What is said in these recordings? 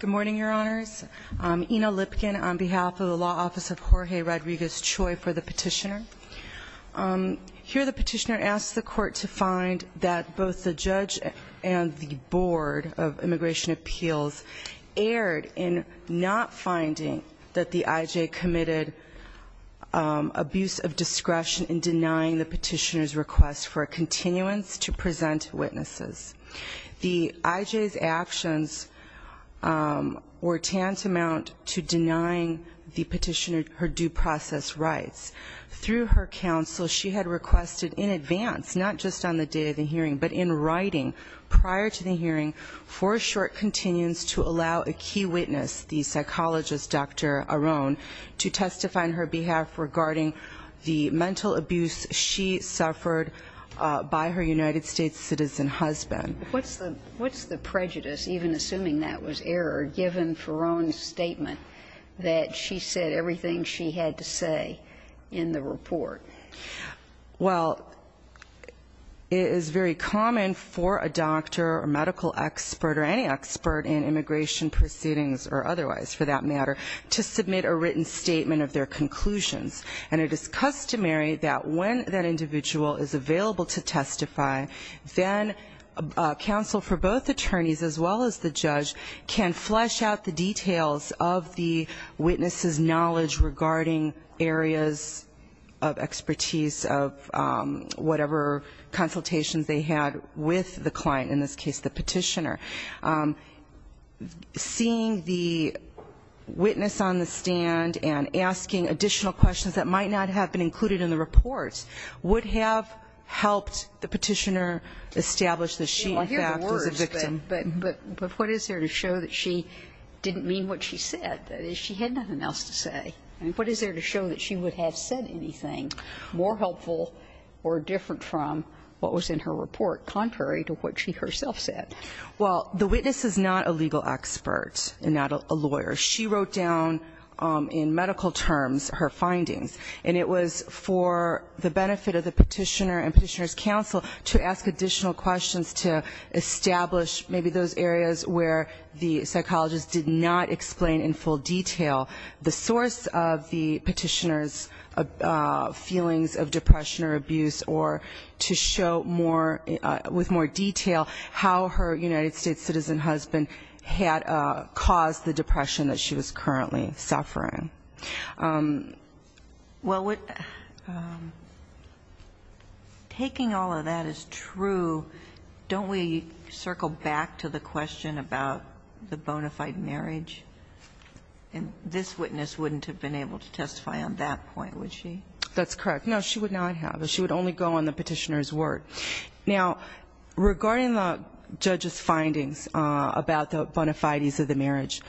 Good morning, Your Honors. Ina Lipkin on behalf of the Law Office of Jorge Rodriguez-Choi for the petitioner. Here the petitioner asks the court to find that both the judge and the Board of Immigration Appeals erred in not finding that the IJ committed abuse of discretion in denying the petitioner's request for a continuance to present witnesses. The IJ's actions were tantamount to denying the petitioner her due process rights. Through her counsel, she had requested in advance, not just on the day of the hearing, but in writing prior to the hearing, for a short continuance to allow a key witness, the psychologist Dr. Aron, to testify on her behalf regarding the mental abuse she suffered by her United States citizen husband. What's the prejudice, even assuming that was error, given Farron's statement that she said everything she had to say in the report? Well, it is very common for a doctor or medical expert or any expert in immigration proceedings or otherwise, for that matter, to submit a written statement of their conclusions. And it is customary that when that individual is available to testify, then counsel for both attorneys as well as the judge can flesh out the details of the witness's knowledge regarding areas of expertise of whatever consultations they had with the client, in this case the petitioner. Seeing the witness on the stand and asking additional questions that might not have been included in the reports would have helped the petitioner establish that she, in fact, was a victim. I hear the words, but what is there to show that she didn't mean what she said? That is, she had nothing else to say. I mean, what is there to show that she would have said anything more helpful or different from what was in her report, contrary to what she herself said? Well, the witness is not a legal expert and not a lawyer. She wrote down in medical terms her findings, and it was for the benefit of the petitioner and petitioner's counsel to ask additional questions to establish maybe those areas where the psychologist did not explain in full detail the source of the petitioner's feelings of depression or abuse or to show more, with more detail, how her United States citizen husband had caused the depression that she was currently suffering. Well, taking all of that as true, don't we circle back to the question about the bona fide marriage? And this witness wouldn't have been able to testify on that point, would she? That's correct. No, she would not have. She would only go on the petitioner's word. Now, regarding the judge's findings about the bona fides of the marriage,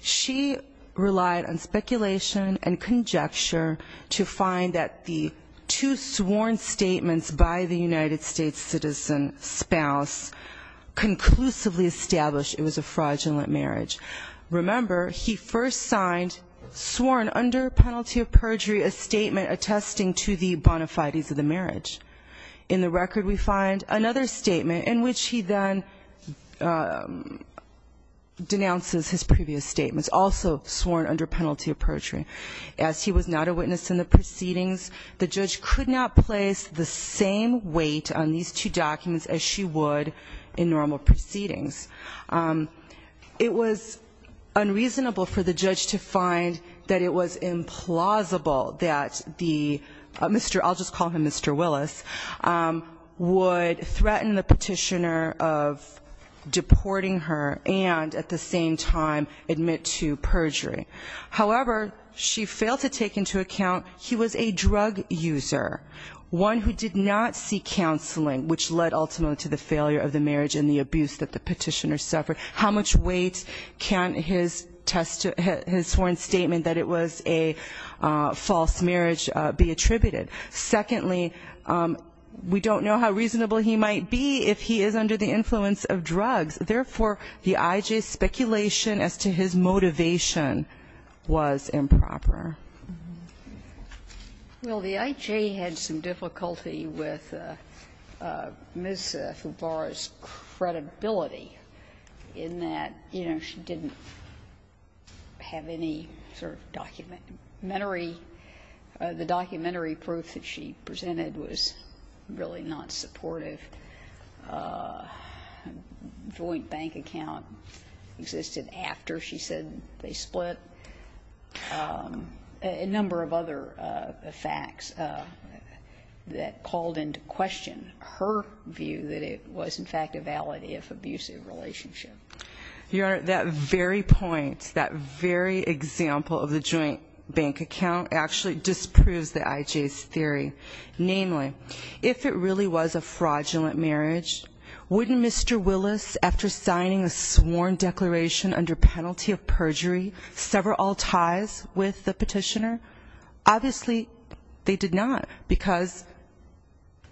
she relied on speculation and conjecture to find that the two sworn statements by the United States citizen spouse conclusively established it was a fraudulent marriage. Remember, he first signed, sworn under penalty of perjury, a statement attesting to the bona fides of the marriage. In the record we find another statement in which he then denounces his previous statements, also sworn under penalty of perjury. As he was not a witness in the proceedings, the judge could not place the same weight on these two documents as she would in normal proceedings. It was unreasonable for the judge to find that it was implausible that the Mr. I'll just call him Mr. Willis, would threaten the petitioner of deporting her and at the same time admit to perjury. However, she failed to take into account he was a drug user, one who did not seek counseling, which led ultimately to the failure of the marriage and the abuse that the petitioner suffered. How much weight can his sworn statement that it was a false marriage be attributed? Secondly, we don't know how reasonable he might be if he is under the influence of drugs. Therefore, the IJ's speculation as to his motivation was improper. Well, the IJ had some difficulty with Ms. Fubara's credibility in that, you know, she didn't have any sort of documentary. The documentary proof that she presented was really not supportive. A joint bank account existed after she said they split. A number of other facts that called into question her view that it was in fact a valid if abusive relationship. Your Honor, that very point, that very example of the joint bank account actually disproves the IJ's theory. Namely, if it really was a fraudulent marriage, wouldn't Mr. Willis, after signing a sworn declaration under penalty of perjury, sever all ties with the petitioner? Obviously, they did not because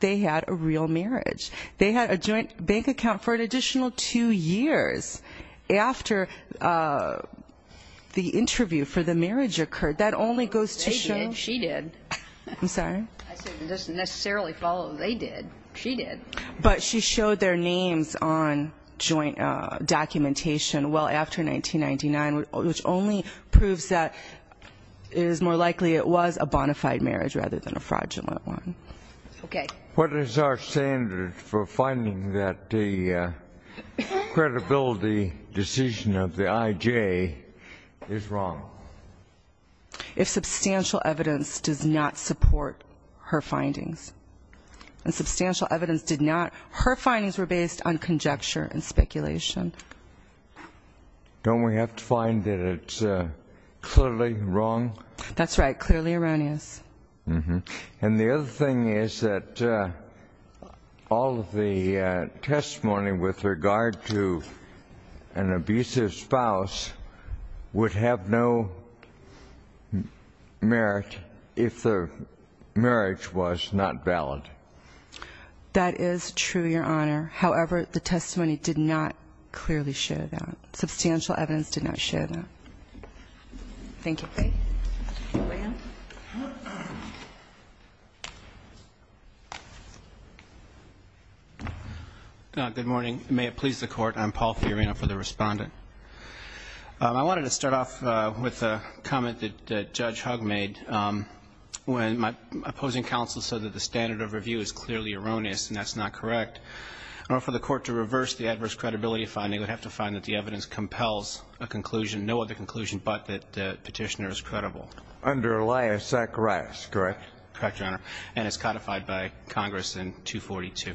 they had a real marriage. They had a joint bank account for an additional two years after the interview for the marriage occurred. That only goes to show. They did, she did. I'm sorry? I said it doesn't necessarily follow they did, she did. But she showed their names on joint documentation well after 1999, which only proves that it is more likely it was a bona fide marriage rather than a fraudulent one. Okay. What is our standard for finding that the credibility decision of the IJ is wrong? If substantial evidence does not support her findings, and substantial evidence did not, her findings were based on conjecture and speculation. Don't we have to find that it's clearly wrong? That's right, clearly erroneous. And the other thing is that all of the testimony with regard to an abusive spouse would have no merit if the marriage was not valid. That is true, Your Honor. However, the testimony did not clearly show that. Substantial evidence did not show that. Thank you. Good morning. May it please the Court. I'm Paul Fiorina for the Respondent. I wanted to start off with a comment that Judge Hugg made when my opposing counsel said that the standard of review is clearly erroneous and that's not correct. In order for the Court to reverse the adverse credibility finding, we'd have to find that the evidence compels a conclusion, no other conclusion but that the petitioner is credible. Under Elias Zacharias, correct? Correct, Your Honor. And is codified by Congress in 242.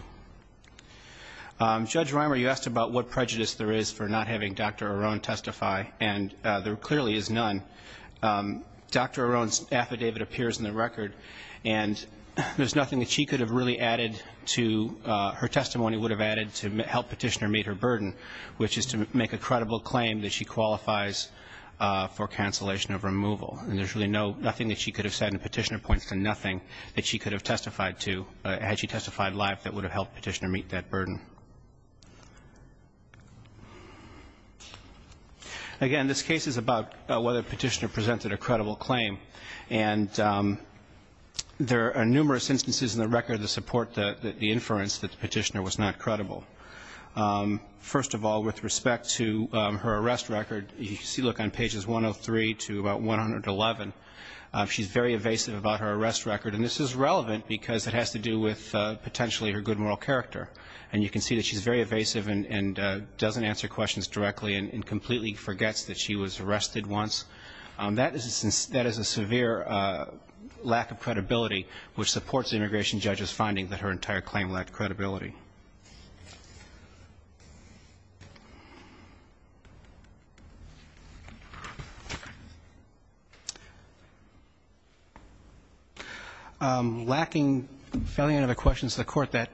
Judge Reimer, you asked about what prejudice there is for not having Dr. Arone testify, and there clearly is none. Dr. Arone's affidavit appears in the record, and there's nothing that she could have really added to her testimony would have added to help petitioner meet her burden, which is to make a credible claim that she qualifies for cancellation of removal. And there's really nothing that she could have said and the petitioner points to nothing that she could have testified to had she testified live that would have helped petitioner meet that burden. Again, this case is about whether the petitioner presented a credible claim, and there are numerous instances in the record that support the inference that the petitioner was not credible. First of all, with respect to her arrest record, you can see, look, on pages 103 to about 111, she's very evasive about her arrest record, and this is relevant because it has to do with potentially her good moral character. And you can see that she's very evasive and doesn't answer questions directly and completely forgets that she was arrested once. That is a severe lack of credibility, which supports the immigration judge's finding that her entire claim lacked credibility. Lacking any other questions of the Court, that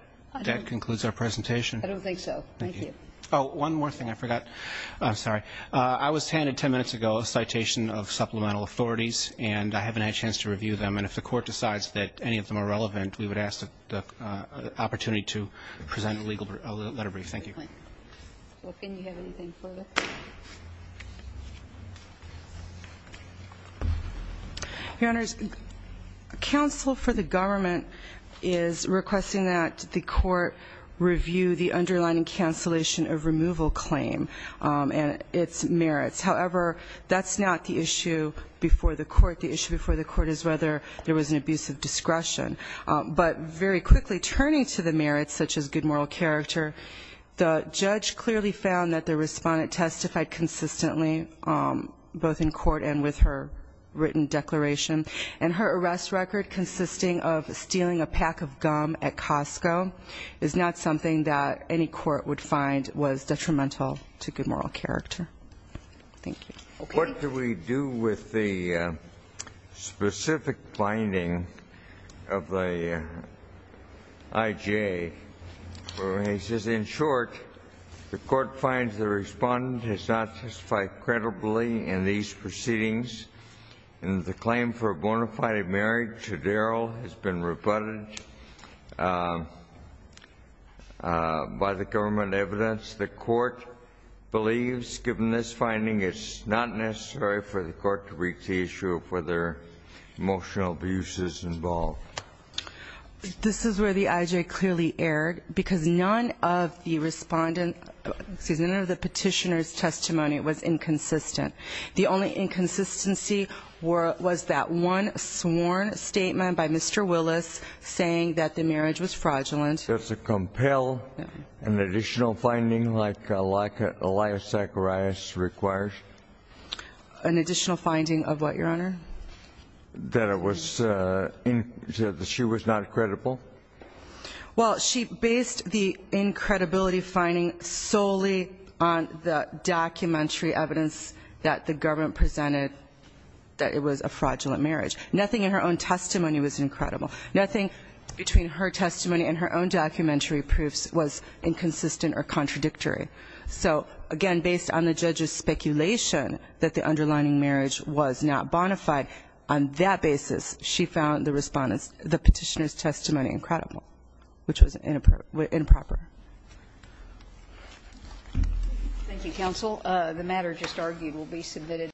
concludes our presentation. I don't think so. Thank you. Oh, one more thing I forgot. I'm sorry. I was handed 10 minutes ago a citation of supplemental authorities, and I haven't had a chance to review them. And if the Court decides that any of them are relevant, we would ask the opportunity to present a legal letter brief. Thank you. Well, can you have anything further? Your Honors, counsel for the government is requesting that the Court review the underlying cancellation of removal claim and its merits. However, that's not the issue before the Court. The issue before the Court is whether there was an abuse of discretion. But very quickly, turning to the merits, such as good moral character, the judge clearly found that the respondent testified consistently, both in court and with her written declaration. And her arrest record, consisting of stealing a pack of gum at Costco, is not something that any court would find was detrimental to good moral character. Thank you. What do we do with the specific finding of the IJA? He says, in short, the Court finds the respondent has not testified credibly in these proceedings, and the claim for a bona fide marriage to Daryl has been rebutted by the government evidence. Does the Court believe, given this finding, it's not necessary for the Court to brief the issue of whether emotional abuse is involved? This is where the IJA clearly erred, because none of the respondent Excuse me. None of the petitioner's testimony was inconsistent. The only inconsistency was that one sworn statement by Mr. Willis saying that the marriage was fraudulent. Does it compel an additional finding like Elias Zacharias requires? An additional finding of what, Your Honor? That she was not credible? Well, she based the incredibility finding solely on the documentary evidence that the government presented that it was a fraudulent marriage. Nothing in her own testimony was incredible. Nothing between her testimony and her own documentary proofs was inconsistent or contradictory. So, again, based on the judge's speculation that the underlining marriage was not bona fide, on that basis she found the respondent's, the petitioner's testimony incredible, which was improper. Thank you, counsel. The matter just argued will be submitted.